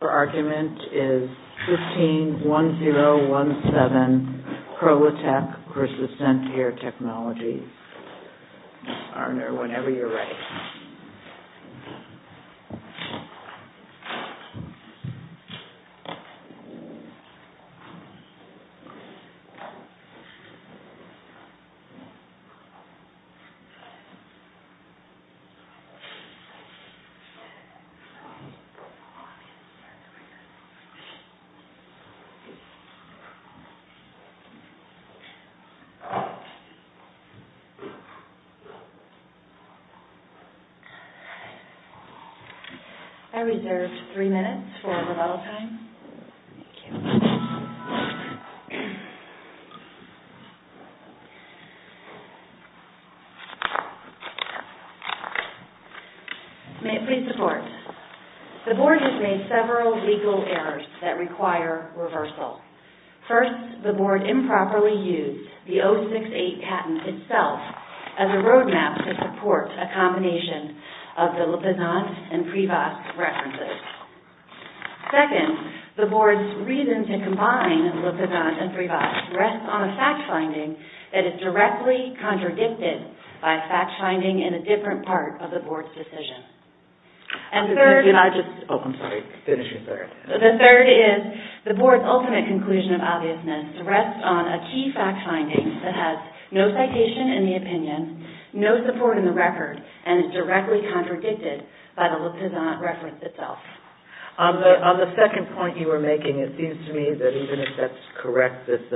Your argument is 15-1017, Prolitec v. ScentAir Technologies. Mr. Arner, whenever you're ready. I reserve three minutes for rebuttal time. Thank you. May it please the board. The board has made several legal errors that require reversal. First, the board improperly used the 068 patent itself as a roadmap to support a combination of the Lippizant and Privas references. Second, the board's reason to combine Lippizant and Privas rests on a fact-finding that is directly contradicted by fact-finding in a different part of the board's decision. Third, the board's ultimate conclusion of obviousness rests on a key fact-finding that has no citation in the opinion, no support in the record, and is directly contradicted by the Lippizant reference itself. On the second point you were making, it seems to me that even if that's correct, that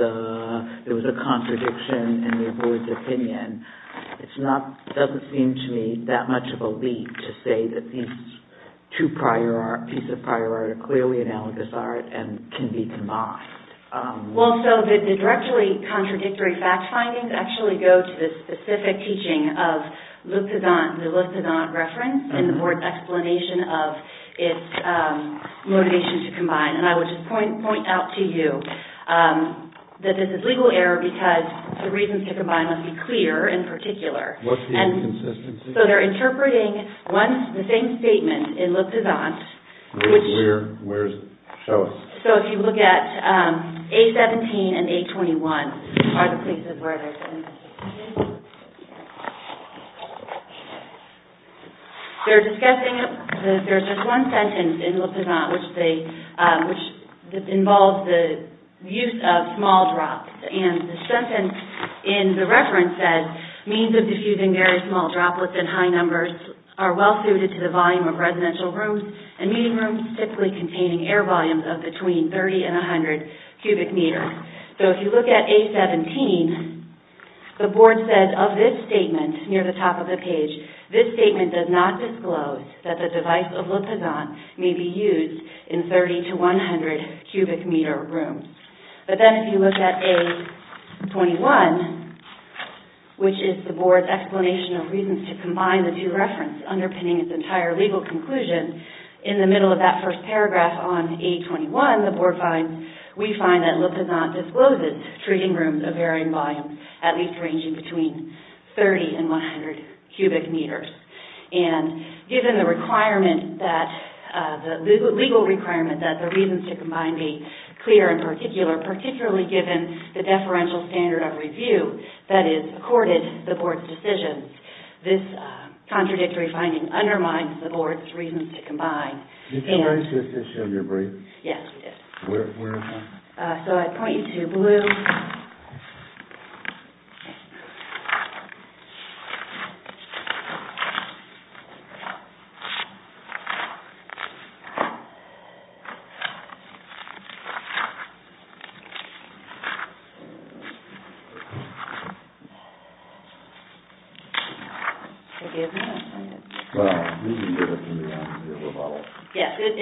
there was a contradiction in the board's opinion, it doesn't seem to me that much of a leap to say that these two pieces of prior art are clearly analogous art and can be combined. Well, so the directly contradictory fact-findings actually go to the specific teaching of the Lippizant reference in the board's explanation of its motivation to combine. And I would just point out to you that this is a legal error because the reasons to combine must be clear and particular. What's the inconsistency? So they're interpreting the same statement in Lippizant. Where is it? Show us. So if you look at A17 and A21 are the places where there's inconsistency. There's just one sentence in Lippizant which involves the use of small drops. And the sentence in the reference says means of diffusing very small droplets in high numbers are well suited to the volume of residential rooms and meeting rooms typically containing air volumes of between 30 and 100 cubic meters. So if you look at A17, the board said of this statement near the top of the page, this statement does not disclose that the device of Lippizant may be used in 30 to 100 cubic meter rooms. But then if you look at A21, which is the board's explanation of reasons to combine the two references underpinning its entire legal conclusion, in the middle of that first paragraph on A21, the board finds, we find that Lippizant discloses treating rooms of varying volumes, at least ranging between 30 and 100 cubic meters. And given the requirement that, the legal requirement that the reasons to combine be clear in particular, particularly given the deferential standard of review that is accorded the board's decision, this contradictory finding undermines the board's reasons to combine. Did you erase this issue of your brief? Yes, we did. Where is it? So I point you to blue. Forgive me. Well, you can get it from your little bottle. Yes, it's...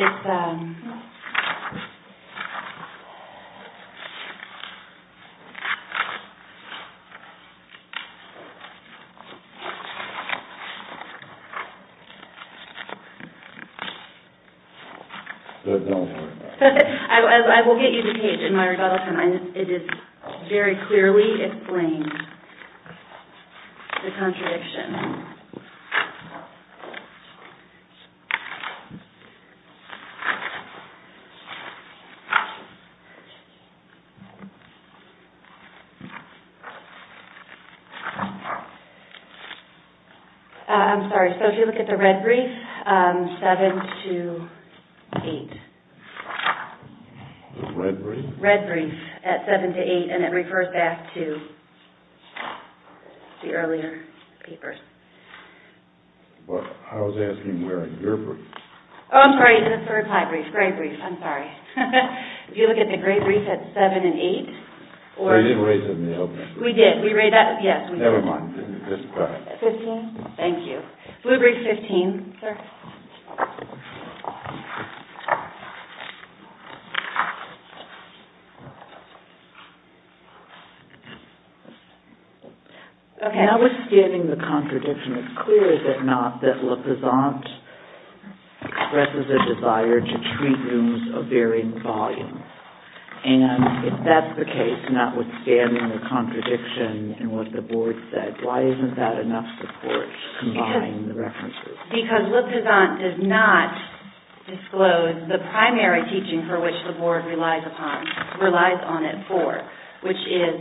Don't worry about it. I will get you the page in my rebuttal. It is very clearly explained, the contradiction. I'm sorry, so if you look at the red brief, 7 to 8. The red brief? Red brief, at 7 to 8, and it refers back to the earlier papers. Well, I was asking where is your brief? Oh, I'm sorry, it's the third high brief, gray brief, I'm sorry. If you look at the gray brief, it's 7 and 8. We didn't erase it in the opening. We did, we erased that. Never mind, just go ahead. Thank you. Blue brief, 15. I'm sorry. Notwithstanding the contradiction, it's clear, is it not, that LaPazant expresses a desire to treat news of varying volume. And if that's the case, notwithstanding the contradiction in what the board said, why isn't that enough support to combine the references? Because LaPazant does not disclose the primary teaching for which the board relies upon, relies on it for, which is...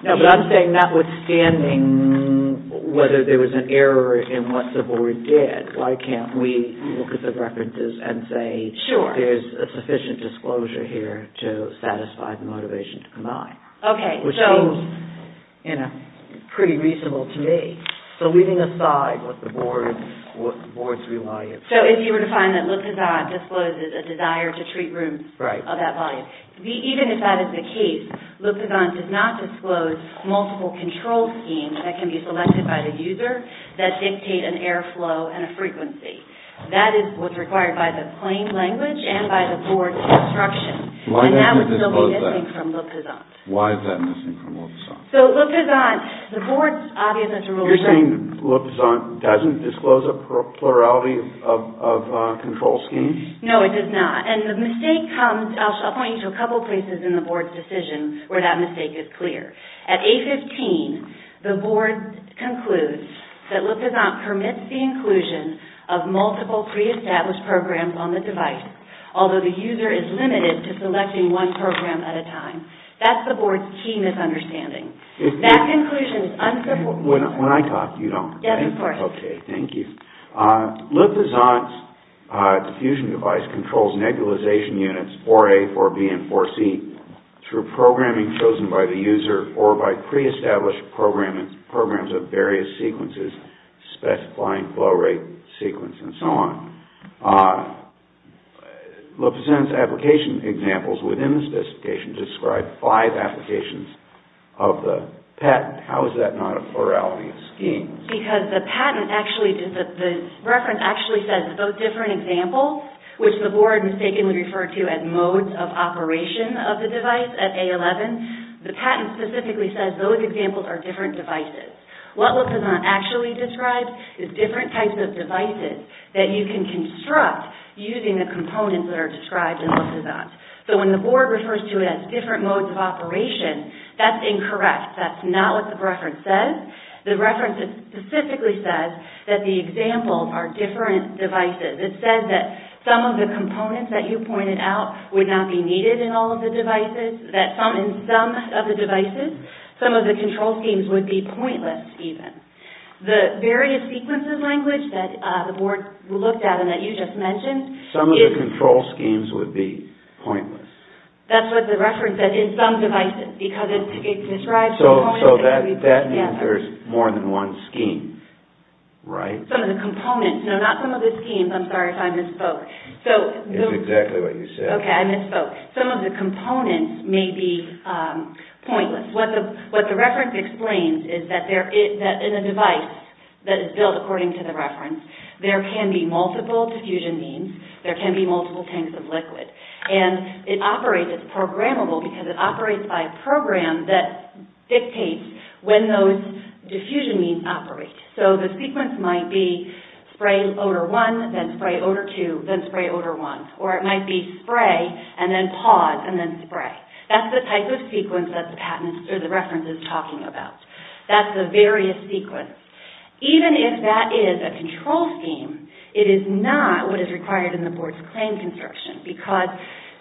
No, but I'm saying notwithstanding whether there was an error in what the board did, why can't we look at the references and say... Sure. There's a sufficient disclosure here to satisfy the motivation to combine. Okay, so... Pretty reasonable to me. So, leaving aside what the board's reliance... So, if you were to find that LaPazant discloses a desire to treat news of that volume. Right. Even if that is the case, LaPazant does not disclose multiple control schemes that can be selected by the user that dictate an air flow and a frequency. That is what's required by the plain language and by the board's instruction. Why does it disclose that? And that would still be missing from LaPazant. Why is that missing from LaPazant? So, LaPazant... You're saying LaPazant doesn't disclose a plurality of control schemes? No, it does not. And the mistake comes... I'll point you to a couple places in the board's decision where that mistake is clear. At A15, the board concludes that LaPazant permits the inclusion of multiple pre-established programs on the device, although the user is limited to selecting one program at a time. That's the board's key misunderstanding. That conclusion is unsupport... When I talk, you don't... Yes, of course. Okay, thank you. LaPazant's diffusion device controls nebulization units 4A, 4B, and 4C through programming chosen by the user or by pre-established programs of various sequences, specifying flow rate sequence and so on. LaPazant's application examples within the specification describe five applications of the patent. How is that not a plurality of schemes? Because the patent actually... The reference actually says those different examples, which the board mistakenly referred to as modes of operation of the device at A11. The patent specifically says those examples are different devices. What LaPazant actually describes is different types of devices that you can construct using the components that are described in LaPazant. So when the board refers to it as different modes of operation, that's incorrect. That's not what the reference says. The reference specifically says that the examples are different devices. It says that some of the components that you pointed out would not be needed in all of the devices, that in some of the devices, some of the control schemes would be pointless even. The various sequences language that the board looked at and that you just mentioned... Some of the control schemes would be pointless. That's what the reference said, in some devices, because it describes... So that means there's more than one scheme, right? Some of the components. No, not some of the schemes. I'm sorry if I misspoke. It's exactly what you said. Okay, I misspoke. Some of the components may be pointless. What the reference explains is that in a device that is built according to the reference, there can be multiple diffusion means. There can be multiple tanks of liquid. And it operates, it's programmable because it operates by a program that dictates when those diffusion means operate. So the sequence might be spray odor 1, then spray odor 2, then spray odor 1. Or it might be spray and then pause and then spray. That's the type of sequence that the reference is talking about. That's the various sequence. Even if that is a control scheme, it is not what is required in the board's claim construction because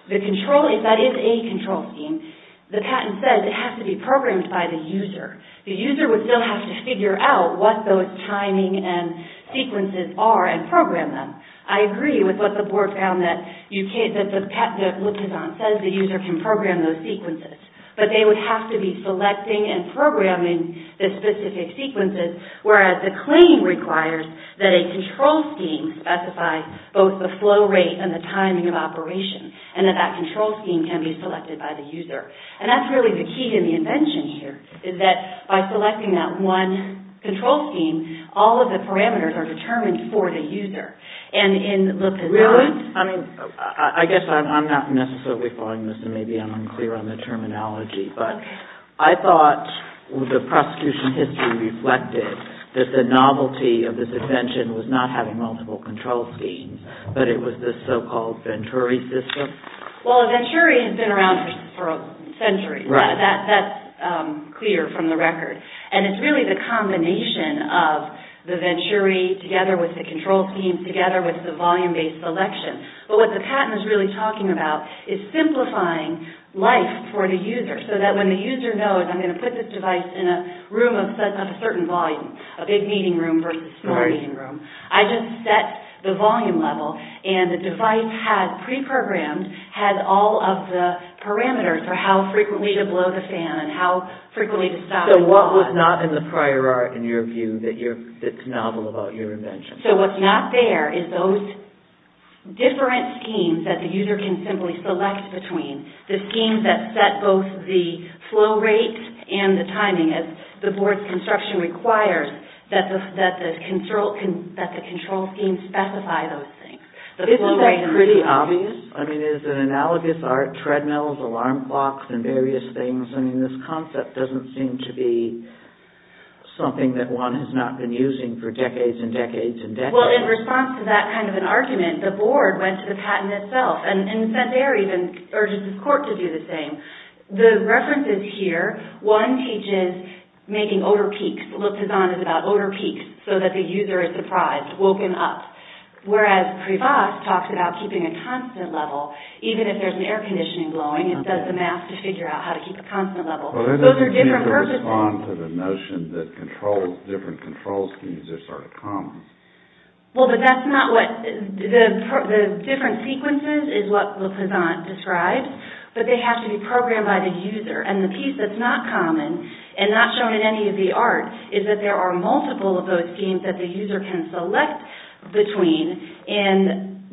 the control, if that is a control scheme, the patent says it has to be programmed by the user. The user would still have to figure out what those timing and sequences are and program them. I agree with what the board found that the user can program those sequences, but they would have to be selecting and programming the specific sequences, whereas the claim requires that a control scheme specifies both the flow rate and the timing of operation and that that control scheme can be selected by the user. And that's really the key to the invention here is that by selecting that one control scheme, all of the parameters are determined for the user. Really? I guess I'm not necessarily following this and maybe I'm unclear on the terminology, but I thought the prosecution history reflected that the novelty of this invention was not having multiple control schemes, but it was this so-called Venturi system. Well, Venturi has been around for centuries. That's clear from the record. And it's really the combination of the Venturi together with the control scheme together with the volume-based selection. But what the patent is really talking about is simplifying life for the user so that when the user knows I'm going to put this device in a room of a certain volume, a big meeting room versus a smaller meeting room, I just set the volume level and the device had pre-programmed, had all of the parameters for how frequently to blow the fan and how frequently to stop. So what was not in the prior art, in your view, that's novel about your invention? So what's not there is those different schemes that the user can simply select between, the schemes that set both the flow rate and the timing, as the board's construction requires that the control schemes specify those things. Isn't that pretty obvious? I mean, it's an analogous art, treadmills, alarm clocks, and various things. I mean, this concept doesn't seem to be something that one has not been using for decades and decades and decades. Well, in response to that kind of an argument, the board went to the patent itself and sent air even, urged the court to do the same. The references here, one teaches making odor peaks, looked as on as about odor peaks so that the user is surprised, woken up. Whereas Privas talks about keeping a constant level, even if there's an air conditioning blowing, it does the math to figure out how to keep a constant level. Those are different purposes. Well, that doesn't seem to respond to the notion that different control schemes are sort of common. Well, but that's not what the different sequences is what Le Pizant describes, but they have to be programmed by the user. And the piece that's not common and not shown in any of the art is that there are multiple of those schemes that the user can select between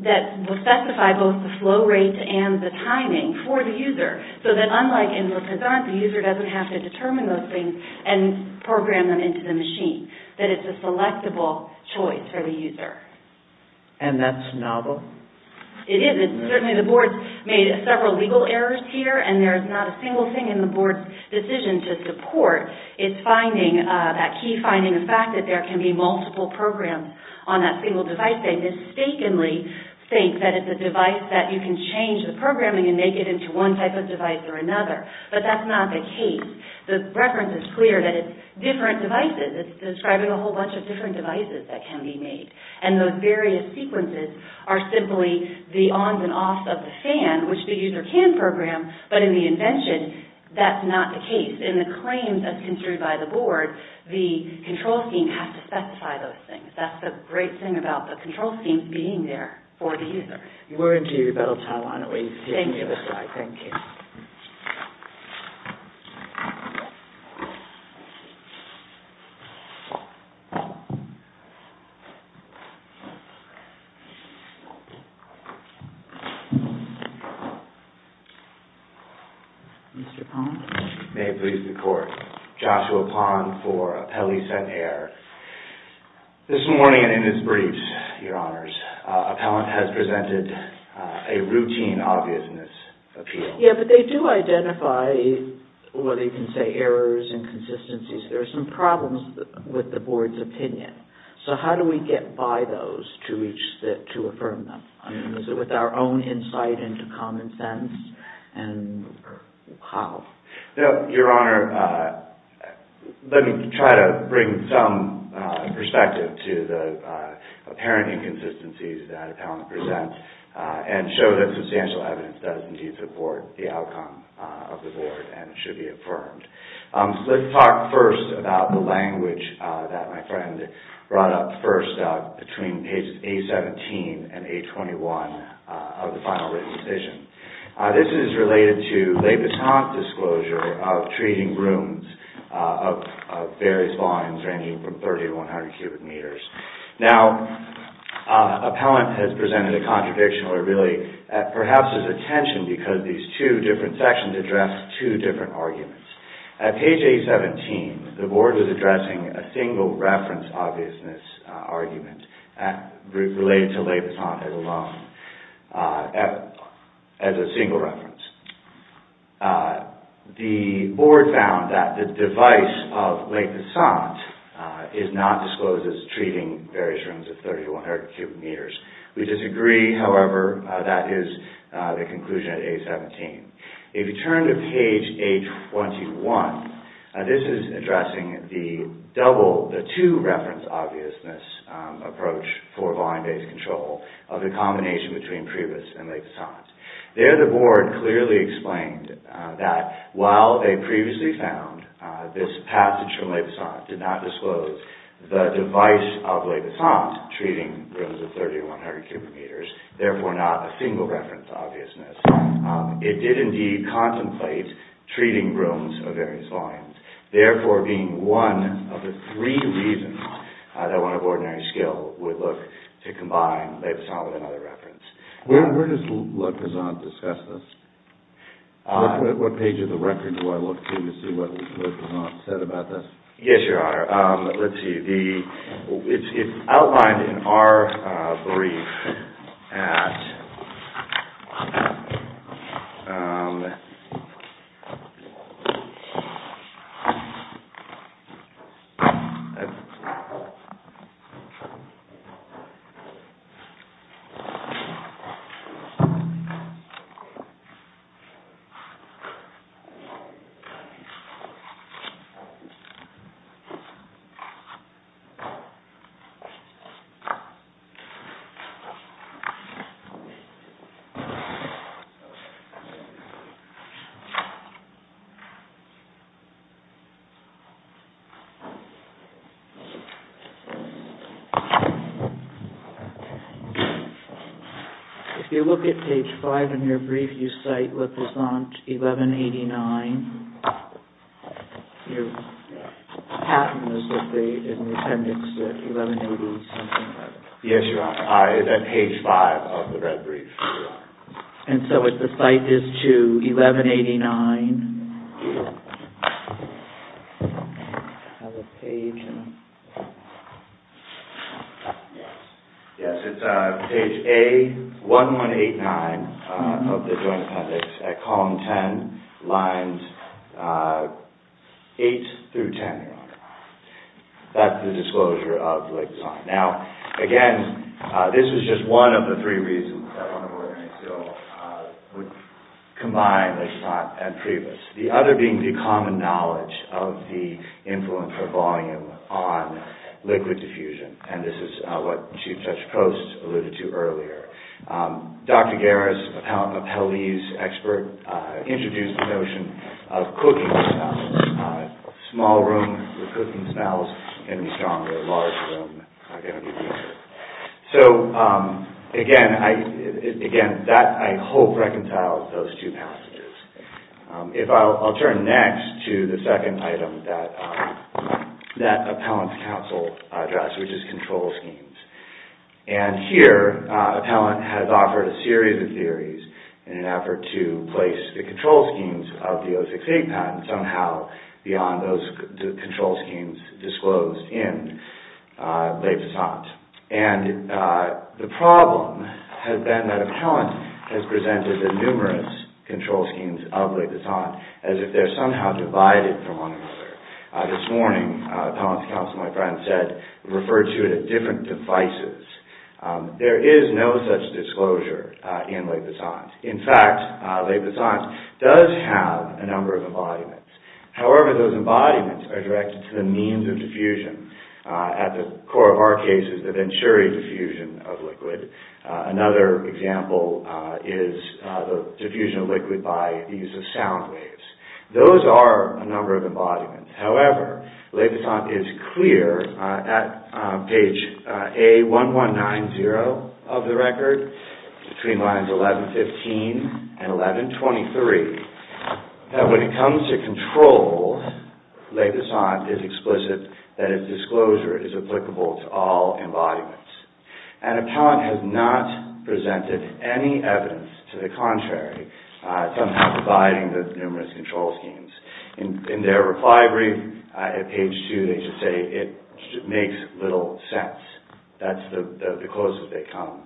that will specify both the flow rate and the timing for the user. So that unlike in Le Pizant, the user doesn't have to determine those things and program them into the machine. That it's a selectable choice for the user. And that's novel. It is. Certainly the board made several legal errors here and there's not a single thing in the board's decision to support its finding, that key finding, the fact that there can be multiple programs on that single device. They mistakenly think that it's a device that you can change the programming and make it into one type of device or another. But that's not the case. The reference is clear that it's different devices. It's describing a whole bunch of different devices that can be made. And those various sequences are simply the ons and offs of the fan, which the user can program, but in the invention, that's not the case. In the claims that's construed by the board, the control scheme has to specify those things. That's the great thing about the control scheme being there for the user. We're into your battle time. Why don't we take the other side? Thank you. Thank you. Mr. Pond. May it please the Court. Joshua Pond for Appellee Sent Air. This morning in his briefs, Your Honors, appellant has presented a routine obviousness appeal. Yeah, but they do identify, whether you can say errors, inconsistencies. There are some problems with the board's opinion. So how do we get by those to reach, to affirm them? Is it with our own insight into common sense? And how? Your Honor, let me try to bring some perspective to the apparent inconsistencies that appellant presents and show that substantial evidence does indeed support the outcome of the board and should be affirmed. Let's talk first about the language that my friend brought up first, between pages A-17 and A-21 of the final written decision. This is related to L'Habitant's disclosure of treating rooms of various volumes ranging from 30 to 100 cubic meters. Now, appellant has presented a contradiction, or really perhaps there's a tension, because these two different sections address two different arguments. At page A-17, the board was addressing a single reference obviousness argument related to L'Habitant alone. As a single reference. The board found that the device of Lake Nassant is not disclosed as treating various rooms of 30 to 100 cubic meters. We disagree, however, that is the conclusion at A-17. If you turn to page A-21, this is addressing the double, the two reference obviousness approach for volume-based control of the combination between Priebus and Lake Nassant. There, the board clearly explained that while they previously found this passage from Lake Nassant did not disclose the device of Lake Nassant treating rooms of 30 to 100 cubic meters, therefore not a single reference obviousness, it did indeed contemplate treating rooms of various volumes, therefore being one of the three reasons that one of ordinary skill would look to combine Lake Nassant with another reference. Where does Lake Nassant discuss this? What page of the record do I look to to see what Lake Nassant said about this? Yes, Your Honor. Let's see. It's outlined in our brief. If you look at page 5 in your brief, you cite Lake Nassant 1189. Your patent is in the appendix 1180-something, right? Yes, Your Honor. It's on page 5 of the red brief. And so the cite is to 1189. Yes, it's page A1189 of the joint appendix at column 10, lines 8 through 10, Your Honor. That's the disclosure of Lake Nassant. Now, again, this is just one of the three reasons that one of ordinary skill would combine Lake Nassant and Priebus. The other being the common knowledge of the influence of volume on liquid diffusion, and this is what Chief Judge Post alluded to earlier. Dr. Garris, appellee's expert, introduced the notion of cooking smells. A small room with cooking smells can be stronger. A large room can be weaker. So, again, that, I hope, reconciles those two passages. I'll turn next to the second item, that appellant's counsel address, which is control schemes. And here, appellant has offered a series of theories in an effort to place the control schemes of the 068 patent somehow beyond those control schemes disclosed in Lake Nassant. And the problem has been that appellant has presented the numerous control schemes of Lake Nassant as if they're somehow divided from one another. This morning, appellant's counsel, my friend, said, referred to it as different devices. There is no such disclosure in Lake Nassant. In fact, Lake Nassant does have a number of embodiments. However, those embodiments are directed to the means of diffusion. At the core of our case is the Venturi diffusion of liquid. Another example is the diffusion of liquid by the use of sound waves. Those are a number of embodiments. However, Lake Nassant is clear at page A1190 of the record, between lines 1115 and 1123, that when it comes to control, Lake Nassant is explicit that its disclosure is applicable to all embodiments. And appellant has not presented any evidence to the contrary somehow dividing the numerous control schemes. In their reply brief at page 2, they just say it makes little sense. That's the closest they come.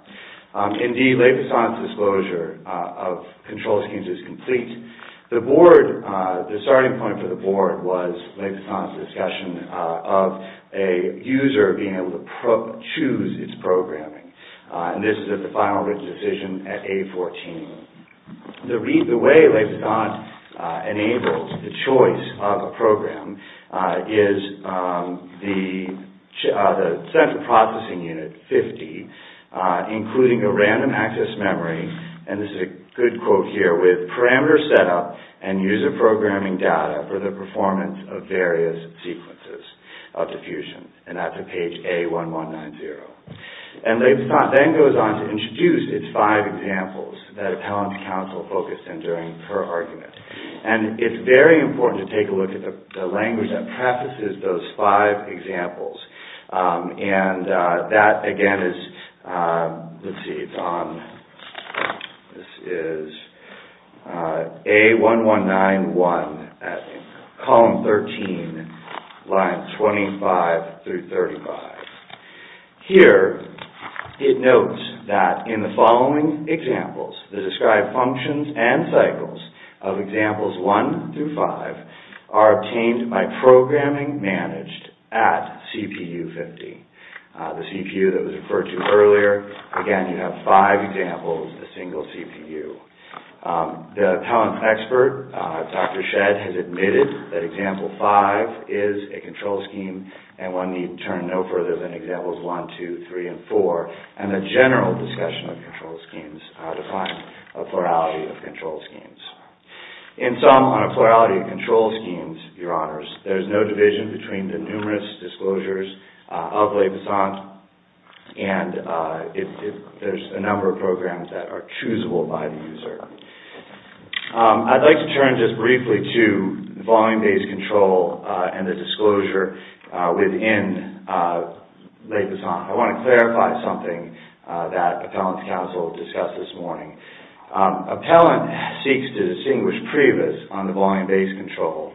Indeed, Lake Nassant's disclosure of control schemes is complete. The starting point for the board was Lake Nassant's discussion of a user being able to choose its programming. And this is at the final written decision at A14. The way Lake Nassant enabled the choice of a program is the central processing unit, 50, including a random access memory. And this is a good quote here, with parameter setup and user programming data for the performance of various sequences of diffusion. And that's at page A1190. And Lake Nassant then goes on to introduce its five examples that appellant counsel focused on during her argument. And it's very important to take a look at the language that prefaces those five examples. And that again is, let's see, it's on, this is A1191 at column 13, lines 25 through 35. Here, it notes that in the following examples, the described functions and cycles of examples 1 through 5 are obtained by programming managed at CPU50. The CPU that was referred to earlier, again you have five examples, a single CPU. The appellant expert, Dr. Shedd, has admitted that example 5 is a control scheme and one need turn no further than examples 1, 2, 3, and 4. And the general discussion of control schemes defines a plurality of control schemes. In sum, on a plurality of control schemes, your honors, there's no division between the numerous disclosures of Lake Nassant. And there's a number of programs that are choosable by the user. I'd like to turn just briefly to volume-based control and the disclosure within Lake Nassant. I want to clarify something that appellant counsel discussed this morning. Appellant seeks to distinguish previs on the volume-based control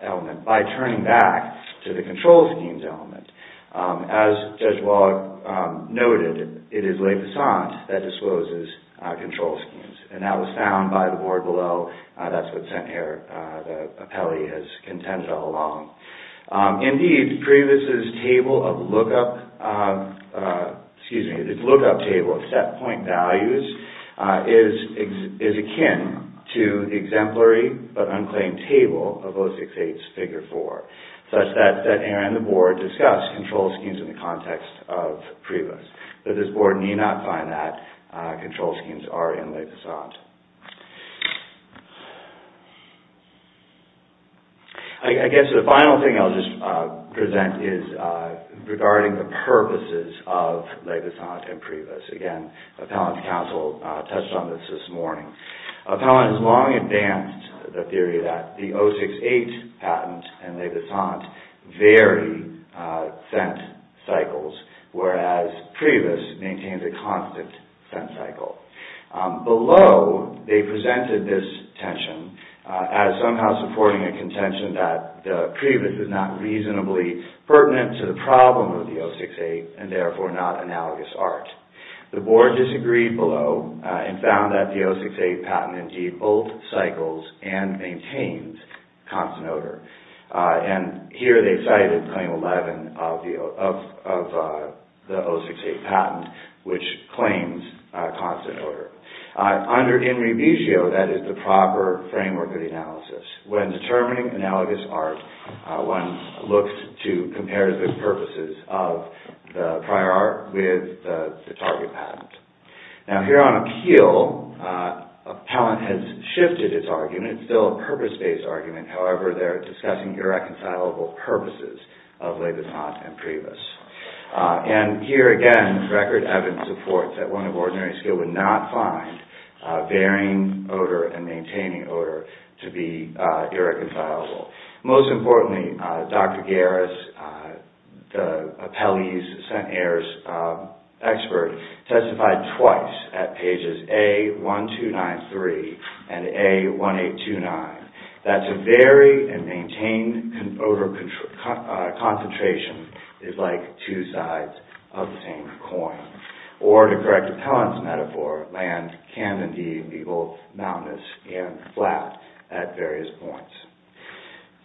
element by turning back to the control schemes element. As Judge Wallach noted, it is Lake Nassant that discloses control schemes. And that was found by the board below. That's what's sent here. The appellee has contended all along. Indeed, previs's table of lookup, excuse me, the lookup table of set point values is akin to the exemplary but unclaimed table of 068's figure 4, such that Aaron and the board discussed control schemes in the context of previs. This board need not find that control schemes are in Lake Nassant. I guess the final thing I'll just present is regarding the purposes of Lake Nassant and previs. Again, appellant counsel touched on this this morning. Appellant has long advanced the theory that the 068 patent and Lake Nassant vary scent cycles, whereas previs maintains a constant scent cycle. Below, they presented this tension as somehow supporting a contention that the previs is not reasonably pertinent to the problem of the 068 and therefore not analogous art. The board disagreed below and found that the 068 patent indeed both cycles and maintains constant odor. And here they cited claim 11 of the 068 patent, which claims constant odor. Under in rebusio, that is the proper framework of the analysis. When determining analogous art, one looks to compare the purposes of the prior art with the target patent. Now here on appeal, appellant has shifted its argument. It's still a purpose-based argument. However, they're discussing irreconcilable purposes of Lake Nassant and previs. And here again, record evidence supports that one of ordinary skill would not find varying odor and maintaining odor to be irreconcilable. Most importantly, Dr. Garris, the appellee's scent expert, testified twice at pages A1293 and A1829 that to vary and maintain odor concentration is like two sides of the same coin. Or to correct appellant's metaphor, land can indeed be both mountainous and flat at various points.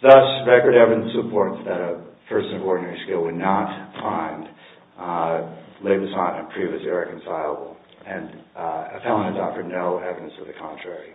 Thus, record evidence supports that a person of ordinary skill would not find Lake Nassant and previs irreconcilable. And appellant has offered no evidence of the contrary.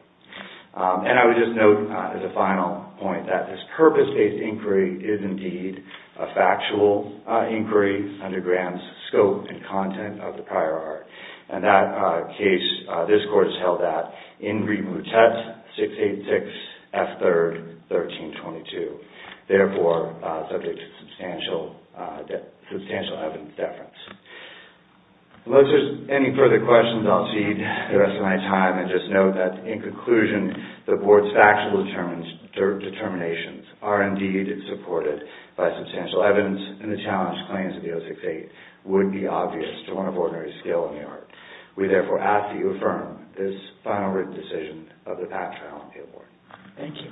And I would just note, as a final point, that this purpose-based inquiry is indeed a factual inquiry under Graham's scope and content of the prior art. And that case, this court has held at Ingrid Moutet, 686 F. 3rd, 1322. Therefore, subject to substantial evidence deference. Unless there's any further questions, I'll cede the rest of my time and just note that, in conclusion, the board's factual determinations are indeed supported by substantial evidence and the challenged claims of the 068 would be obvious to one of ordinary skill in New York. We therefore ask that you affirm this final written decision of the PAT trial and appeal board. Thank you.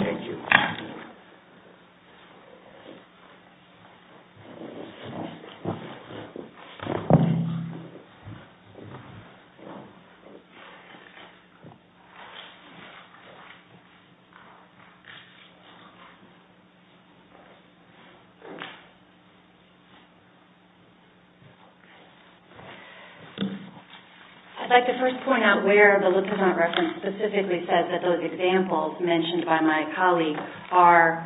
Thank you. Thank you. I'd like to first point out where the lieutenant reference specifically says that those examples mentioned by my colleague are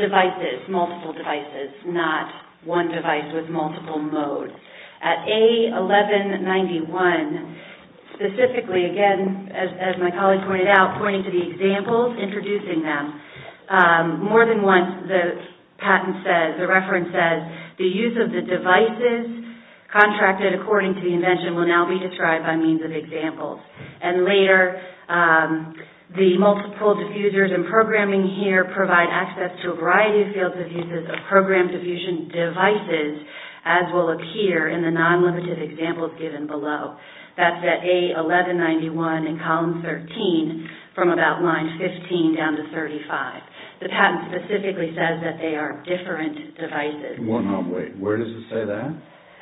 devices, multiple devices, not one device with multiple modes. At A1191, specifically, again, as my colleague pointed out, pointing to the examples, introducing them, more than once the patent says, the reference says, the use of the devices contracted according to the invention will now be described by means of examples. And later, the multiple diffusers and programming here provide access to a variety of fields of uses of programmed diffusion devices, as will appear in the non-limited examples given below. That's at A1191 in column 13 from about line 15 down to 35. The patent specifically says that they are different devices. Wait, where does it say that?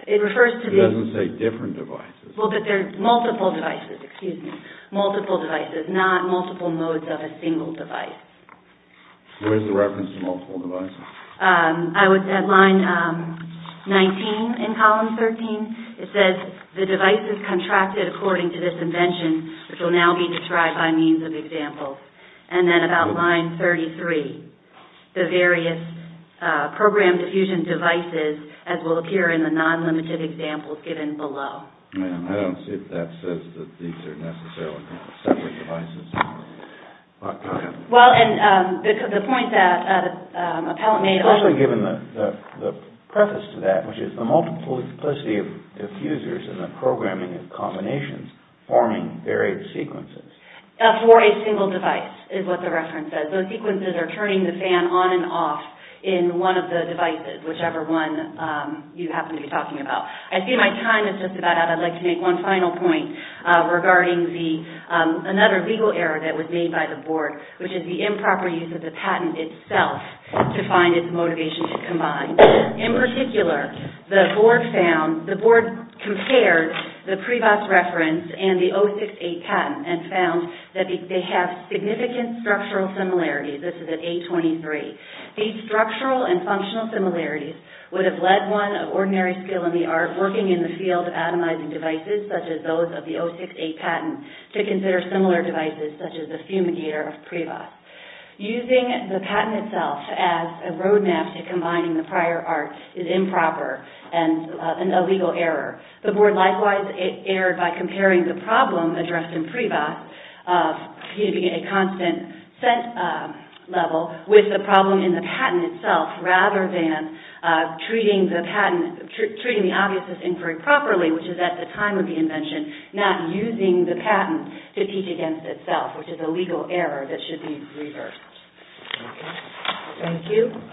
It refers to the... It doesn't say different devices. Well, but they're multiple devices, excuse me, multiple devices, not multiple modes of a single device. Where's the reference to multiple devices? I was at line 19 in column 13. It says the devices contracted according to this invention, which will now be described by means of examples. And then about line 33, the various programmed diffusion devices, as will appear in the non-limited examples given below. I don't see if that says that these are necessarily separate devices. Well, and the point that the appellant made... Especially given the preface to that, which is the multiple diffusers and the programming of combinations forming varied sequences. For a single device is what the reference says. Those sequences are turning the fan on and off in one of the devices, whichever one you happen to be talking about. I see my time is just about out. I'd like to make one final point regarding another legal error that was made by the board, which is the improper use of the patent itself to find its motivation to combine. In particular, the board found... The board compared the PREVAS reference and the 068 patent and found that they have significant structural similarities. This is at A23. These structural and functional similarities would have led one of ordinary skill in the art working in the field of atomizing devices, such as those of the 068 patent, to consider similar devices, such as the fumigator of PREVAS. Using the patent itself as a roadmap to combining the prior art is improper and a legal error. The board, likewise, erred by comparing the problem addressed in PREVAS, a constant scent level, with the problem in the patent itself, rather than treating the obviousness inquiry properly, which is at the time of the invention, not using the patent to teach against itself, which is a legal error that should be reversed. Thank you.